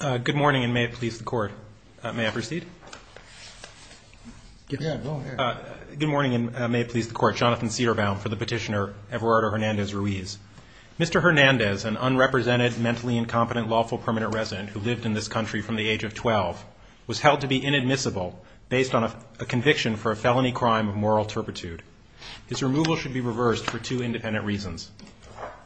Good morning, and may it please the court. May I proceed? Good morning, and may it please the court. Jonathan Siderbaum for the petitioner Everardo Hernandez Ruiz. Mr. Hernandez, an unrepresented, mentally incompetent, lawful permanent resident who lived in this country from the age of 12, was held to be inadmissible based on a conviction for a felony crime of moral turpitude. His removal should be reversed for two independent reasons.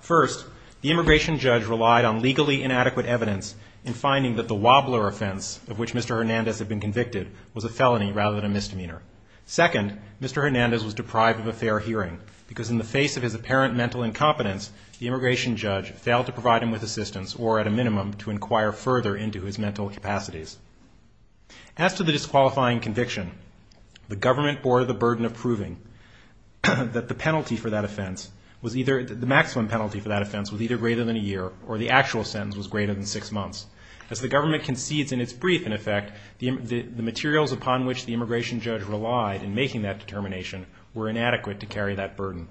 First, the immigration judge relied on legally inadequate evidence in finding that the wobbler offense of which Mr. Hernandez had been convicted was a felony rather than a misdemeanor. Second, Mr. Hernandez was deprived of a fair hearing because in the face of his apparent mental incompetence, the immigration judge failed to provide him with assistance or, at a minimum, to inquire further into his mental capacities. As to the disqualifying conviction, the government bore the burden of proving that the penalty for that offense was either the maximum penalty for that offense was either greater than a year or the actual sentence was greater than six months. As the government concedes in its brief, in effect, the materials upon which the immigration judge relied in making that determination were inadequate to carry that burden.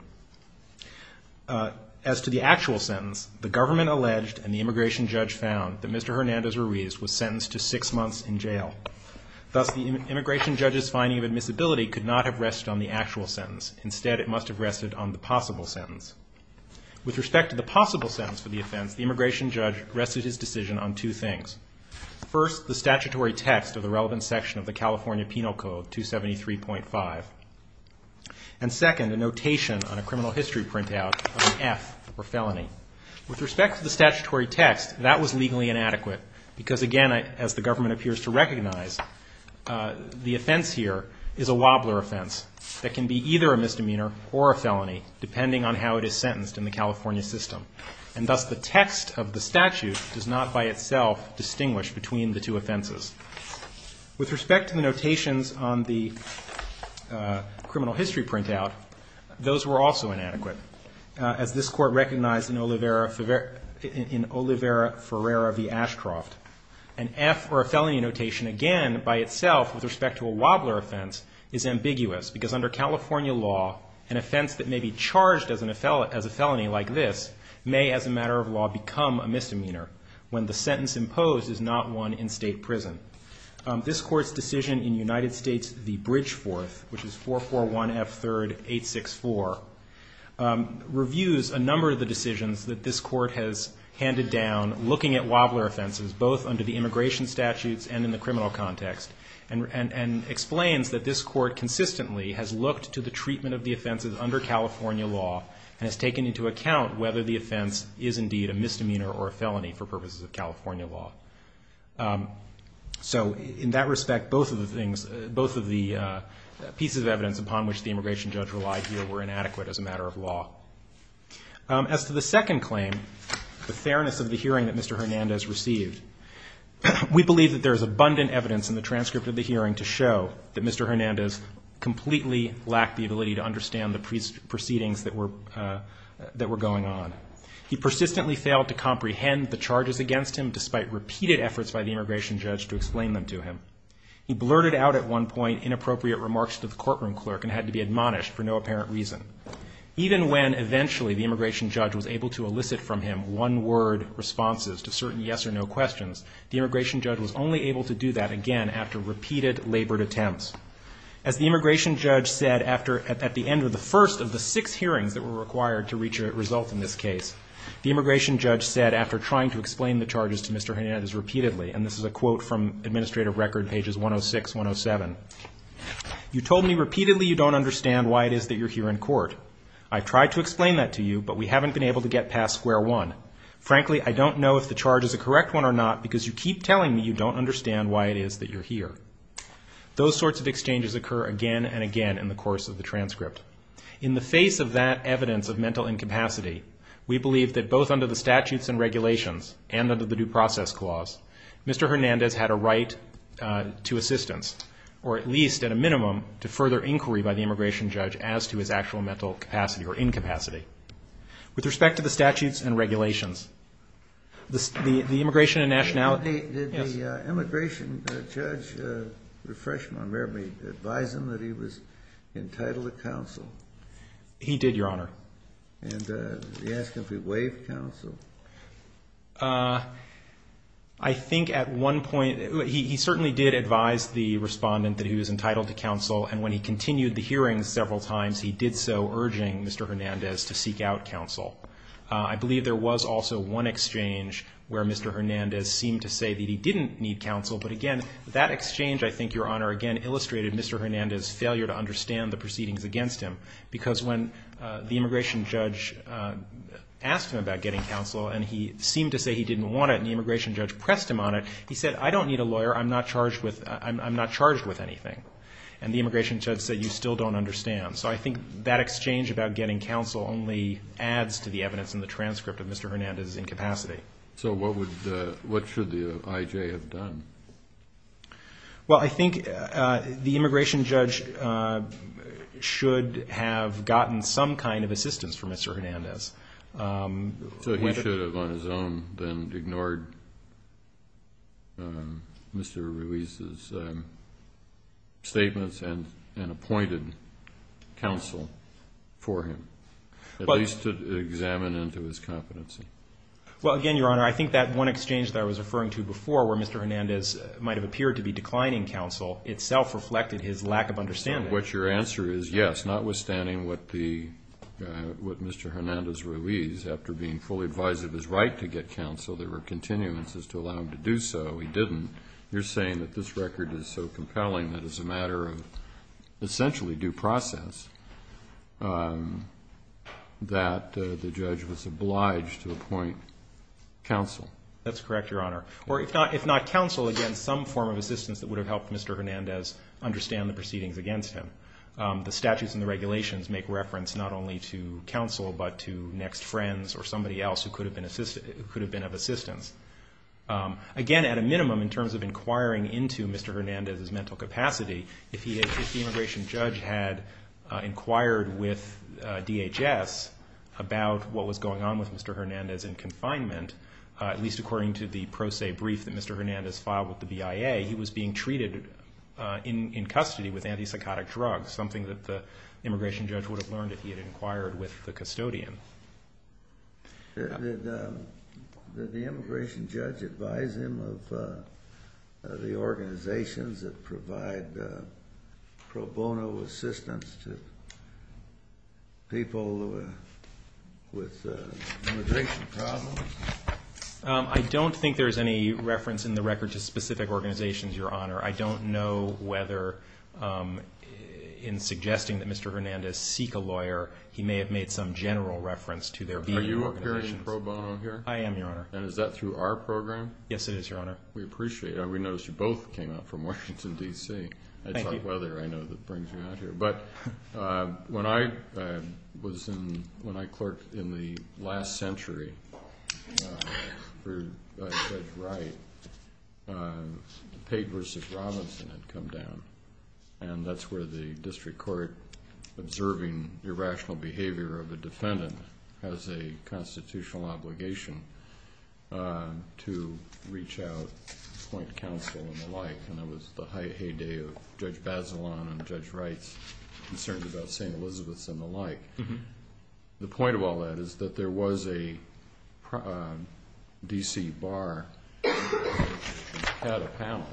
As to the actual sentence, the government alleged and the immigration judge found that Mr. Hernandez Ruiz was sentenced to six months in jail. Thus, the immigration judge's finding of admissibility could not have rested on the actual sentence. Instead, it must have rested on the possible sentence. With respect to the possible sentence for the offense, the immigration judge rested his decision on two things. First, the statutory text of the relevant section of the California Penal Code, 273.5. And second, a notation on a criminal history printout of an F for felony. With respect to the statutory text, that was legally inadequate because, again, as the government appears to recognize, the offense here is a wobbler offense that can be either a misdemeanor or a felony depending on how it is sentenced in the California system. And thus, the text of the statute does not by itself distinguish between the two offenses. With respect to the notations on the criminal history printout, those were also inadequate. As this Court recognized in Olivera Ferreira v. Ashcroft, an F for a felony notation, again, by itself, with respect to a wobbler offense, is ambiguous because under California law, an offense that may be charged as a felony like this may, as a matter of law, become a misdemeanor when the sentence imposed is not one in state prison. This Court's decision in United States v. Bridgeforth, which is 441F3-864, reviews a number of the decisions that this Court has handed down, looking at wobbler offenses, both under the immigration statutes and in the criminal context, and explains that this Court consistently has looked to the treatment of the offenses under California law and has taken into account whether the offense is indeed a misdemeanor or a felony for purposes of California law. So, in that respect, both of the things, both of the pieces of evidence upon which the immigration judge relied here were inadequate as a matter of law. As to the second claim, the fairness of the hearing that Mr. Hernandez received, we believe that there is abundant evidence in the transcript of the hearing to show that Mr. Hernandez completely lacked the ability to understand the proceedings that were going on. He persistently failed to comprehend the charges against him, despite reading the transcript. He blurted out, at one point, inappropriate remarks to the courtroom clerk and had to be admonished for no apparent reason. Even when, eventually, the immigration judge was able to elicit from him one-word responses to certain yes-or-no questions, the immigration judge was only able to do that again after repeated labored attempts. As the immigration judge said after, at the end of the first of the six hearings that were required to reach a result in this case, the immigration judge said, after trying to explain the charges to Mr. Hernandez repeatedly, and this is a quote from Administrative Record, pages 106, 107, you told me repeatedly you don't understand why it is that you're here in court. I've tried to explain that to you, but we haven't been able to get past square one. Frankly, I don't know if the charge is a correct one or not, because you keep telling me you don't understand why it is that you're here. Those sorts of exchanges occur again and again in the course of the transcript. In the face of that evidence of mental incapacity, we believe that both under the statutes and regulations, and under the Due Process Clause, Mr. Hernandez had a right to assistance, or at least at a minimum, to further inquiry by the immigration judge as to his actual mental capacity or incapacity. With respect to the statutes and regulations, the immigration and nationality, yes? I believe there was also one exchange where Mr. Hernandez seemed to say that he didn't need counsel, but again, that exchange, I think, Your Honor, again, illustrated Mr. Hernandez's failure to understand the proceedings against him, because when the immigration judge asked him about getting counsel, and he seemed to say he didn't want it, and the immigration judge pressed him on it, he said, I don't need a lawyer. I'm not charged with anything. And the immigration judge said, you still don't understand. So I think that exchange about getting counsel only adds to the evidence in the transcript of Mr. Hernandez's incapacity. So what should the IJ have done? Well, I think the immigration judge should have gotten some kind of assistance from Mr. Hernandez. So he should have on his own then ignored Mr. Ruiz's statements and appointed counsel for him, at least to examine into his competency? Well, again, Your Honor, I think that one exchange that I was referring to before where Mr. Hernandez might have appeared to be declining counsel itself reflected his lack of understanding. And what your answer is, yes, notwithstanding what Mr. Hernandez Ruiz, after being fully advised of his right to get counsel, there were continuances to allow him to do so, he didn't. You're saying that this record is so compelling that as a matter of essentially due process that the judge was obliged to appoint counsel. That's correct, Your Honor. Or if not counsel, again, some form of assistance that would have helped Mr. Hernandez understand the proceedings against him. The statutes and the regulations make reference not only to counsel but to next friends or somebody else who could have been of assistance. Again, at a minimum, in terms of inquiring into Mr. Hernandez's mental capacity, if the immigration judge had inquired with DHS about what was going on with Mr. Hernandez in confinement, at least according to the pro se brief that Mr. Hernandez filed with the BIA, he was being treated in custody with antipsychotic drugs, something that the immigration judge would have learned if he had inquired with the custodian. Did the immigration judge advise him of the organizations that provide pro bono assistance to people with immigration problems? I don't think there's any reference in the record to specific organizations, Your Honor. I don't know whether in suggesting that Mr. Hernandez seek a lawyer, he may have made some general reference to their BIA organizations. Are you appearing pro bono here? I am, Your Honor. And is that through our program? Yes, it is, Your Honor. We appreciate it. We noticed you both came out from Washington, D.C. I talk weather, I know that brings you out here. But when I was in, when I clerked in the last century for Judge Wright, the papers of Robinson had come down. And that's where the district court, observing irrational behavior of a defendant, has a constitutional obligation to reach out to the district court. And that was the point of counsel and the like, and that was the heyday of Judge Bazelon and Judge Wright's concerns about St. Elizabeth's and the like. The point of all that is that there was a D.C. bar which had a panel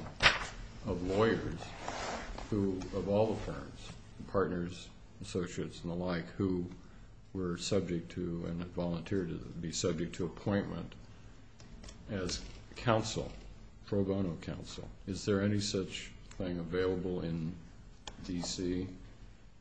of lawyers who, of all the firms, partners, associates and the like, who were subject to and had volunteered to be subject to appointment as counsel. Is there any such thing available in D.C.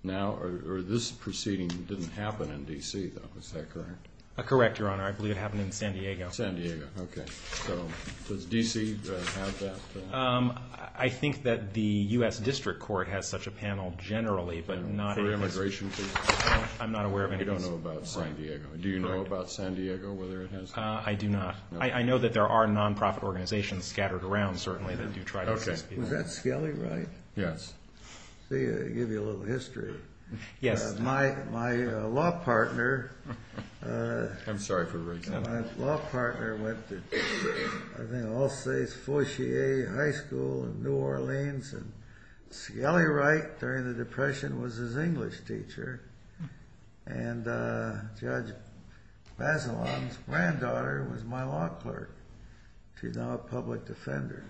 now? Or this proceeding didn't happen in D.C., though, is that correct? Correct, Your Honor. I believe it happened in San Diego. San Diego, okay. So does D.C. have that? I think that the U.S. District Court has such a panel generally, but not as... For immigration cases? I'm not aware of any cases. I don't know about San Diego. Do you know about San Diego, whether it has... I do not. I know that there are non-profit organizations scattered around, certainly, that do try to assist people. Okay. Was that Skelly Wright? Yes. I'll give you a little history. Yes. My law partner... I'm sorry for raising my hand. My law partner went to, I think, Alsace-Fortier High School in New Orleans. And Skelly Wright, during the Depression, was his English teacher. And Judge Bazelon's granddaughter was my law clerk. She's now a public defender.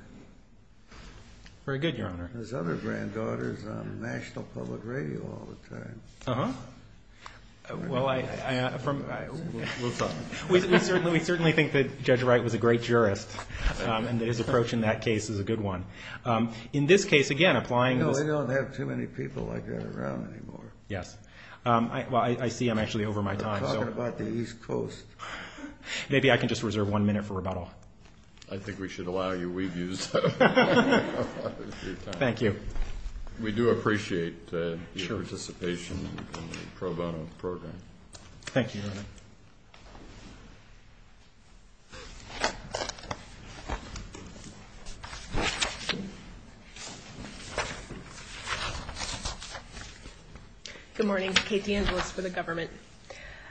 Very good, Your Honor. His other granddaughter is on National Public Radio all the time. Uh-huh. Well, I... We certainly think that Judge Wright was a great jurist, and that his approach in that case is a good one. In this case, again, applying... No, they don't have too many people like that around anymore. Yes. Well, I see I'm actually over my time. We're talking about the East Coast. Maybe I can just reserve one minute for rebuttal. I think we should allow you. We've used up a lot of your time. Thank you. We do appreciate your participation in the pro bono program. Thank you, Your Honor. Good morning. Kate DeAngelis for the government.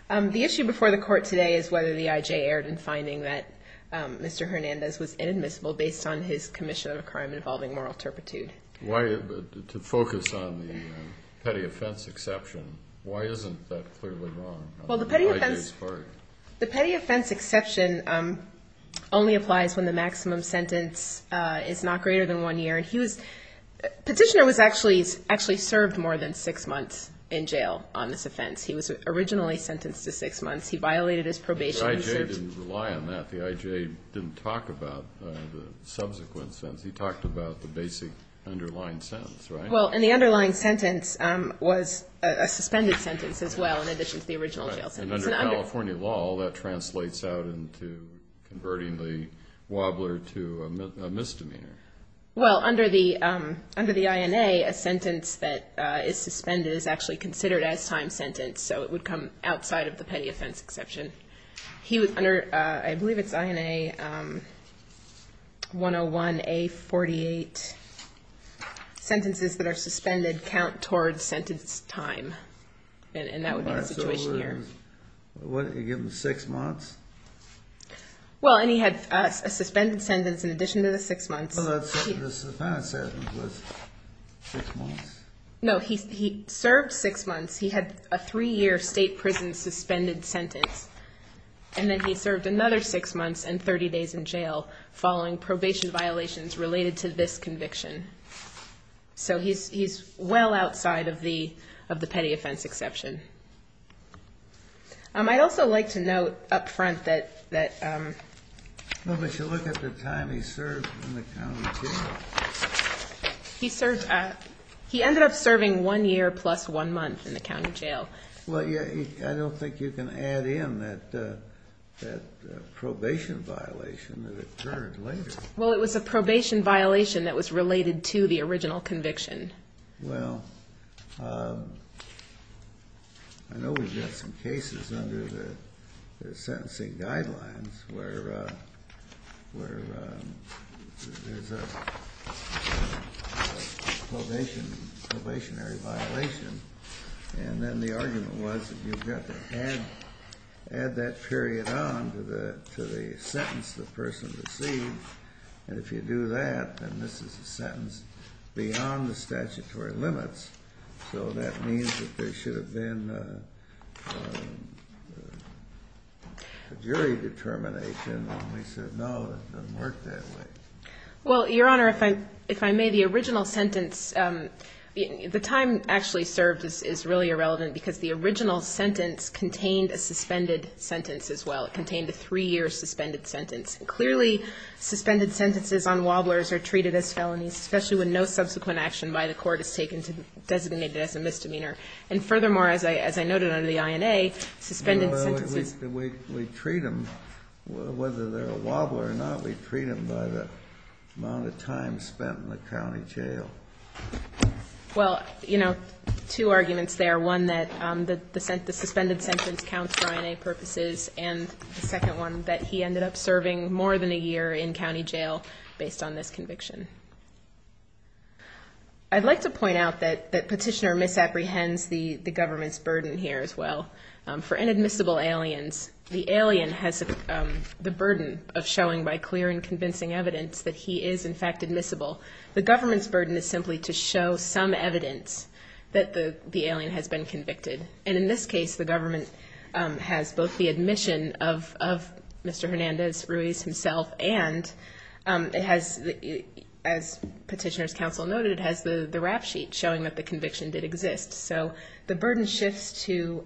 The issue before the Court today is whether the I.J. erred in finding that Mr. Hernandez was inadmissible based on his commission of a crime involving moral turpitude. To focus on the petty offense exception, why isn't that clearly wrong on the I.J.'s part? Well, the petty offense exception only applies when the maximum sentence is not greater than one year. And he was... Petitioner was actually served more than six months in jail on this offense. He was originally sentenced to six months. He violated his probation and served... In addition to that, the I.J. didn't talk about the subsequent sentence. He talked about the basic underlying sentence, right? Well, and the underlying sentence was a suspended sentence as well in addition to the original jail sentence. And under California law, that translates out into converting the wobbler to a misdemeanor. Well, under the I.N.A., a sentence that is suspended is actually considered as time sentence, so it would come outside of the petty offense exception. He was under, I believe it's I.N.A. 101-A-48. Sentences that are suspended count towards sentence time. And that would be the situation here. So what, you give him six months? Well, and he had a suspended sentence in addition to the six months. Well, the penalty sentence was six months. No, he served six months. He had a three-year state prison suspended sentence, and then he served another six months and 30 days in jail following probation violations related to this conviction. So he's well outside of the petty offense exception. I'd also like to note up front that... Well, but you look at the time he served in the county jail. He ended up serving one year plus one month in the county jail. Well, I don't think you can add in that probation violation that occurred later. Well, it was a probation violation that was related to the original conviction. Well, I know we've got some cases under the sentencing guidelines where there's a probationary violation, and then the argument was that you've got to add that period on to the sentence the person received. And if you do that, then this is a sentence beyond the statutory limits. So that means that there should have been a jury determination, and they said, no, it doesn't work that way. Well, Your Honor, if I may, the original sentence, the time actually served is really irrelevant because the original sentence contained a suspended sentence as well. It contained a three-year suspended sentence. Clearly, suspended sentences on wobblers are treated as felonies, especially when no subsequent action by the court is taken to designate it as a misdemeanor. And furthermore, as I noted under the INA, suspended sentences... We treat them, whether they're a wobbler or not, we treat them by the amount of time spent in the county jail. Well, you know, two arguments there, one that the suspended sentence counts for INA purposes, and the second one that he ended up serving more than a year in county jail based on this conviction. I'd like to point out that Petitioner misapprehends the government's burden here as well. For inadmissible aliens, the alien has the burden of showing by clear and convincing evidence that he is, in fact, admissible. The government's burden is simply to show some evidence that the alien has been convicted. And in this case, the government has both the admission of Mr. Hernandez Ruiz himself and it has, as Petitioner's counsel noted, has the rap sheet showing that the conviction did exist. So the burden shifts to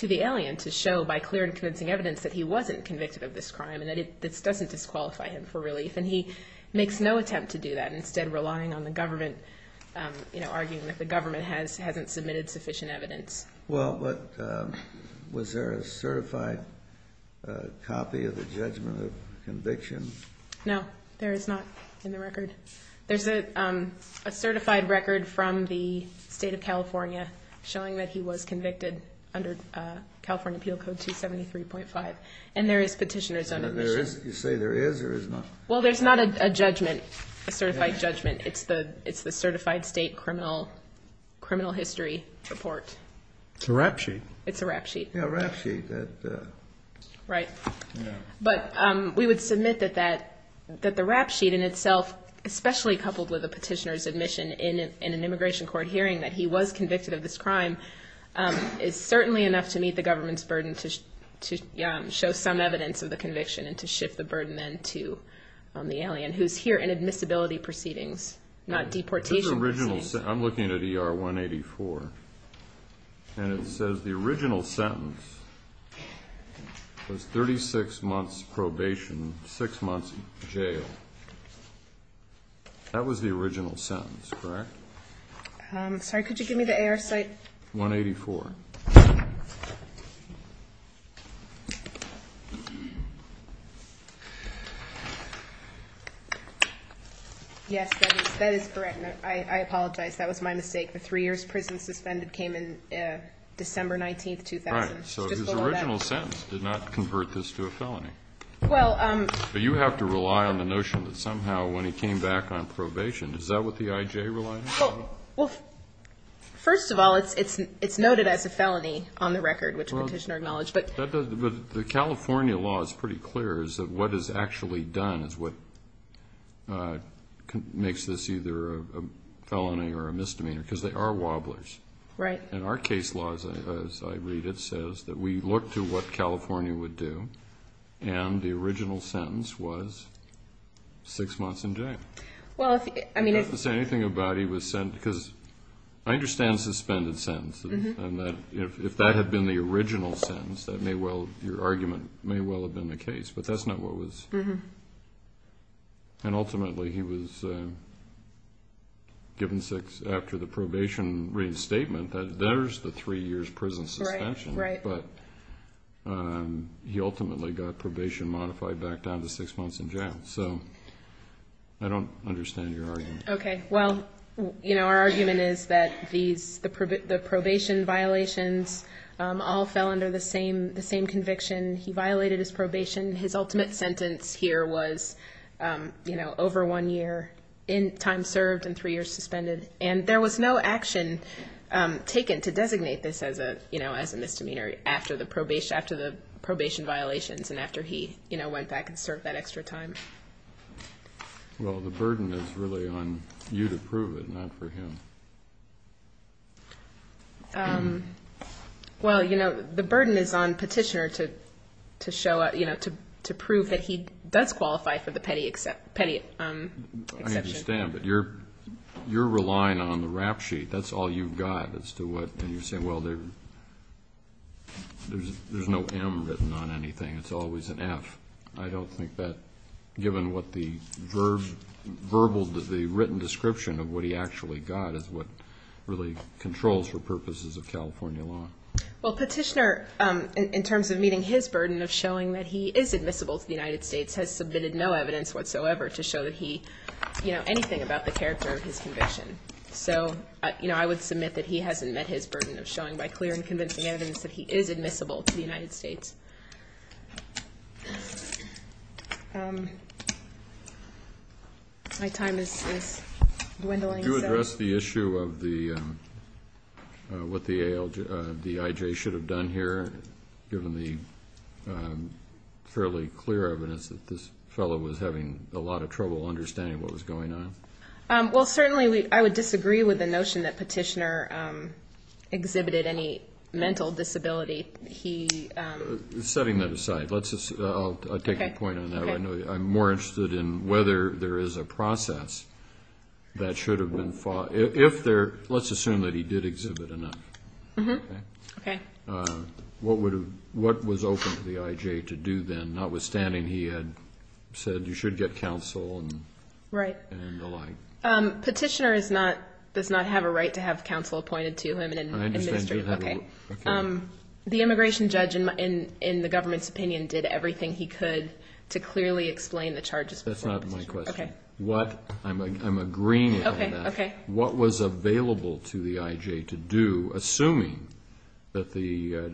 the alien to show by clear and convincing evidence that he wasn't convicted of this crime and that it doesn't disqualify him for relief. And he makes no attempt to do that, instead relying on the government, you know, arguing that the government hasn't submitted sufficient evidence. Well, but was there a certified copy of the judgment of conviction? No, there is not in the record. There's a certified record from the state of California showing that he was convicted under California Appeal Code 273.5. And there is Petitioner's own admission. You say there is or is not? Well, there's not a judgment, a certified judgment. It's the certified state criminal history report. It's a rap sheet. It's a rap sheet. Yeah, a rap sheet. Right. But we would submit that the rap sheet in itself, especially coupled with the Petitioner's admission in an immigration court hearing that he was convicted of this crime, is certainly enough to meet the government's burden to show some evidence of the conviction and to shift the burden then to the alien who's here in admissibility proceedings, not deportation proceedings. I'm looking at ER 184, and it says the original sentence was 36 months probation, 6 months jail. That was the original sentence, correct? Sorry, could you give me the AR site? 184. Yes, that is correct. I apologize. That was my mistake. The 3 years prison suspended came in December 19th, 2000. So his original sentence did not convert this to a felony. But you have to rely on the notion that somehow when he came back on probation, is that what the IJ relied on? Well, first of all, it's noted as a felony on the record, which the Petitioner acknowledged. But the California law is pretty clear as to what is actually done is what makes this either a felony or a misdemeanor, because they are wobblers. Right. And our case law, as I read it, says that we look to what California would do, and the original sentence was 6 months in jail. I don't have to say anything about he was sent, because I understand suspended sentences, and that if that had been the original sentence, your argument may well have been the case. But that's not what was. And ultimately he was given 6 after the probation reinstatement, that there's the 3 years prison suspension. Right, right. I don't understand your argument. Okay. Well, our argument is that the probation violations all fell under the same conviction. He violated his probation. His ultimate sentence here was over 1 year in time served and 3 years suspended. And there was no action taken to designate this as a misdemeanor after the probation violations and after he went back and served that extra time. Well, the burden is really on you to prove it, not for him. Well, you know, the burden is on Petitioner to show up, you know, to prove that he does qualify for the petty exception. I understand, but you're relying on the rap sheet. That's all you've got as to what, and you're saying, well, there's no M written on anything. It's always an F. I don't think that, given what the verbal, the written description of what he actually got, is what really controls for purposes of California law. Well, Petitioner, in terms of meeting his burden of showing that he is admissible to the United States, has submitted no evidence whatsoever to show that he, you know, anything about the character of his conviction. So, you know, I would submit that he hasn't met his burden of showing by clear and convincing evidence that he is admissible to the United States. My time is dwindling. Could you address the issue of what the IJ should have done here, given the fairly clear evidence that this fellow was having a lot of trouble understanding what was going on? Well, certainly I would disagree with the notion that Petitioner exhibited any mental disability. Setting that aside, I'll take your point on that. I'm more interested in whether there is a process that should have been followed. Let's assume that he did exhibit enough. Okay. What was open to the IJ to do then, notwithstanding he had said you should get counsel and the like? Petitioner does not have a right to have counsel appointed to him. I understand you don't have a right. The immigration judge, in the government's opinion, did everything he could to clearly explain the charges before Petitioner. That's not my question. I'm agreeing on that. Okay. What was available to the IJ to do, assuming that the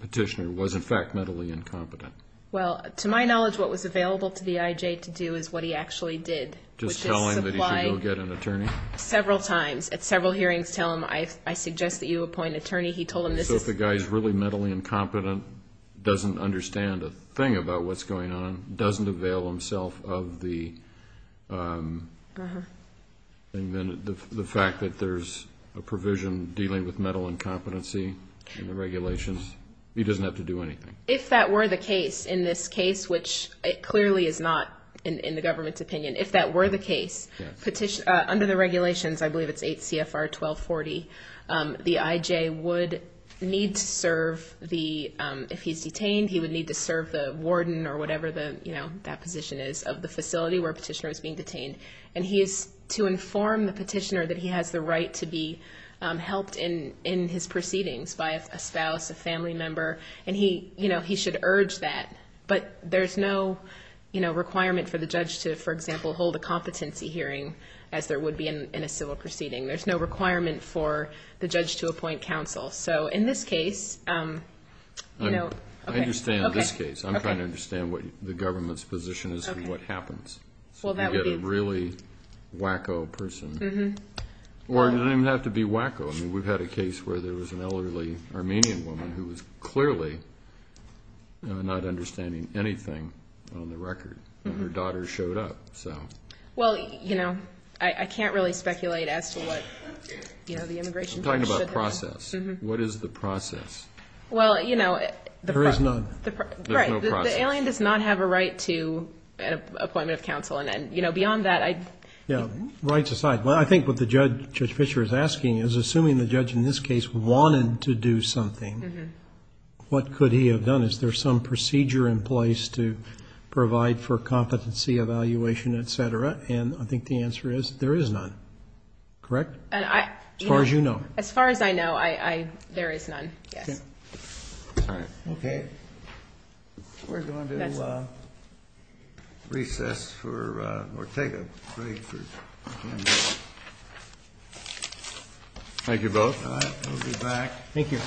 Petitioner was, in fact, mentally incompetent? Well, to my knowledge, what was available to the IJ to do is what he actually did. Just tell him that he should go get an attorney? Several times. At several hearings, tell him, I suggest that you appoint an attorney. He told him this is— So if the guy is really mentally incompetent, doesn't understand a thing about what's going on, doesn't avail himself of the fact that there's a provision dealing with mental incompetency in the regulations, he doesn't have to do anything. If that were the case, in this case, which it clearly is not in the government's opinion, if that were the case, under the regulations, I believe it's 8 CFR 1240, the IJ would need to serve the—if he's detained, he would need to serve the warden or whatever that position is of the facility where Petitioner was being detained. And he is to inform the Petitioner that he has the right to be helped in his proceedings by a spouse, a family member, and he should urge that. But there's no requirement for the judge to, for example, hold a competency hearing as there would be in a civil proceeding. There's no requirement for the judge to appoint counsel. So in this case, you know— I understand this case. I'm trying to understand what the government's position is of what happens. Well, that would be— So you get a really wacko person. Or it doesn't even have to be wacko. I mean, we've had a case where there was an elderly Armenian woman who was clearly not understanding anything on the record. And her daughter showed up, so. Well, you know, I can't really speculate as to what, you know, the immigration court should have done. I'm talking about process. What is the process? Well, you know— There is none. There's no process. Right. The alien does not have a right to an appointment of counsel. And, you know, beyond that, I— Yeah. Rights aside, I think what Judge Fischer is asking is, assuming the judge in this case wanted to do something, what could he have done? Is there some procedure in place to provide for competency evaluation, et cetera? And I think the answer is there is none. Correct? As far as you know. As far as I know, there is none. Yes. All right. Okay. We're going to recess or take a break. Thank you both. We'll be back. Thank you.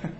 Thank you. Okay. I'm fine. I'm not going to interrupt. Alan? Mike, come here. I can't see Mike. You bet. Yeah. I'm living in L.A. Yeah.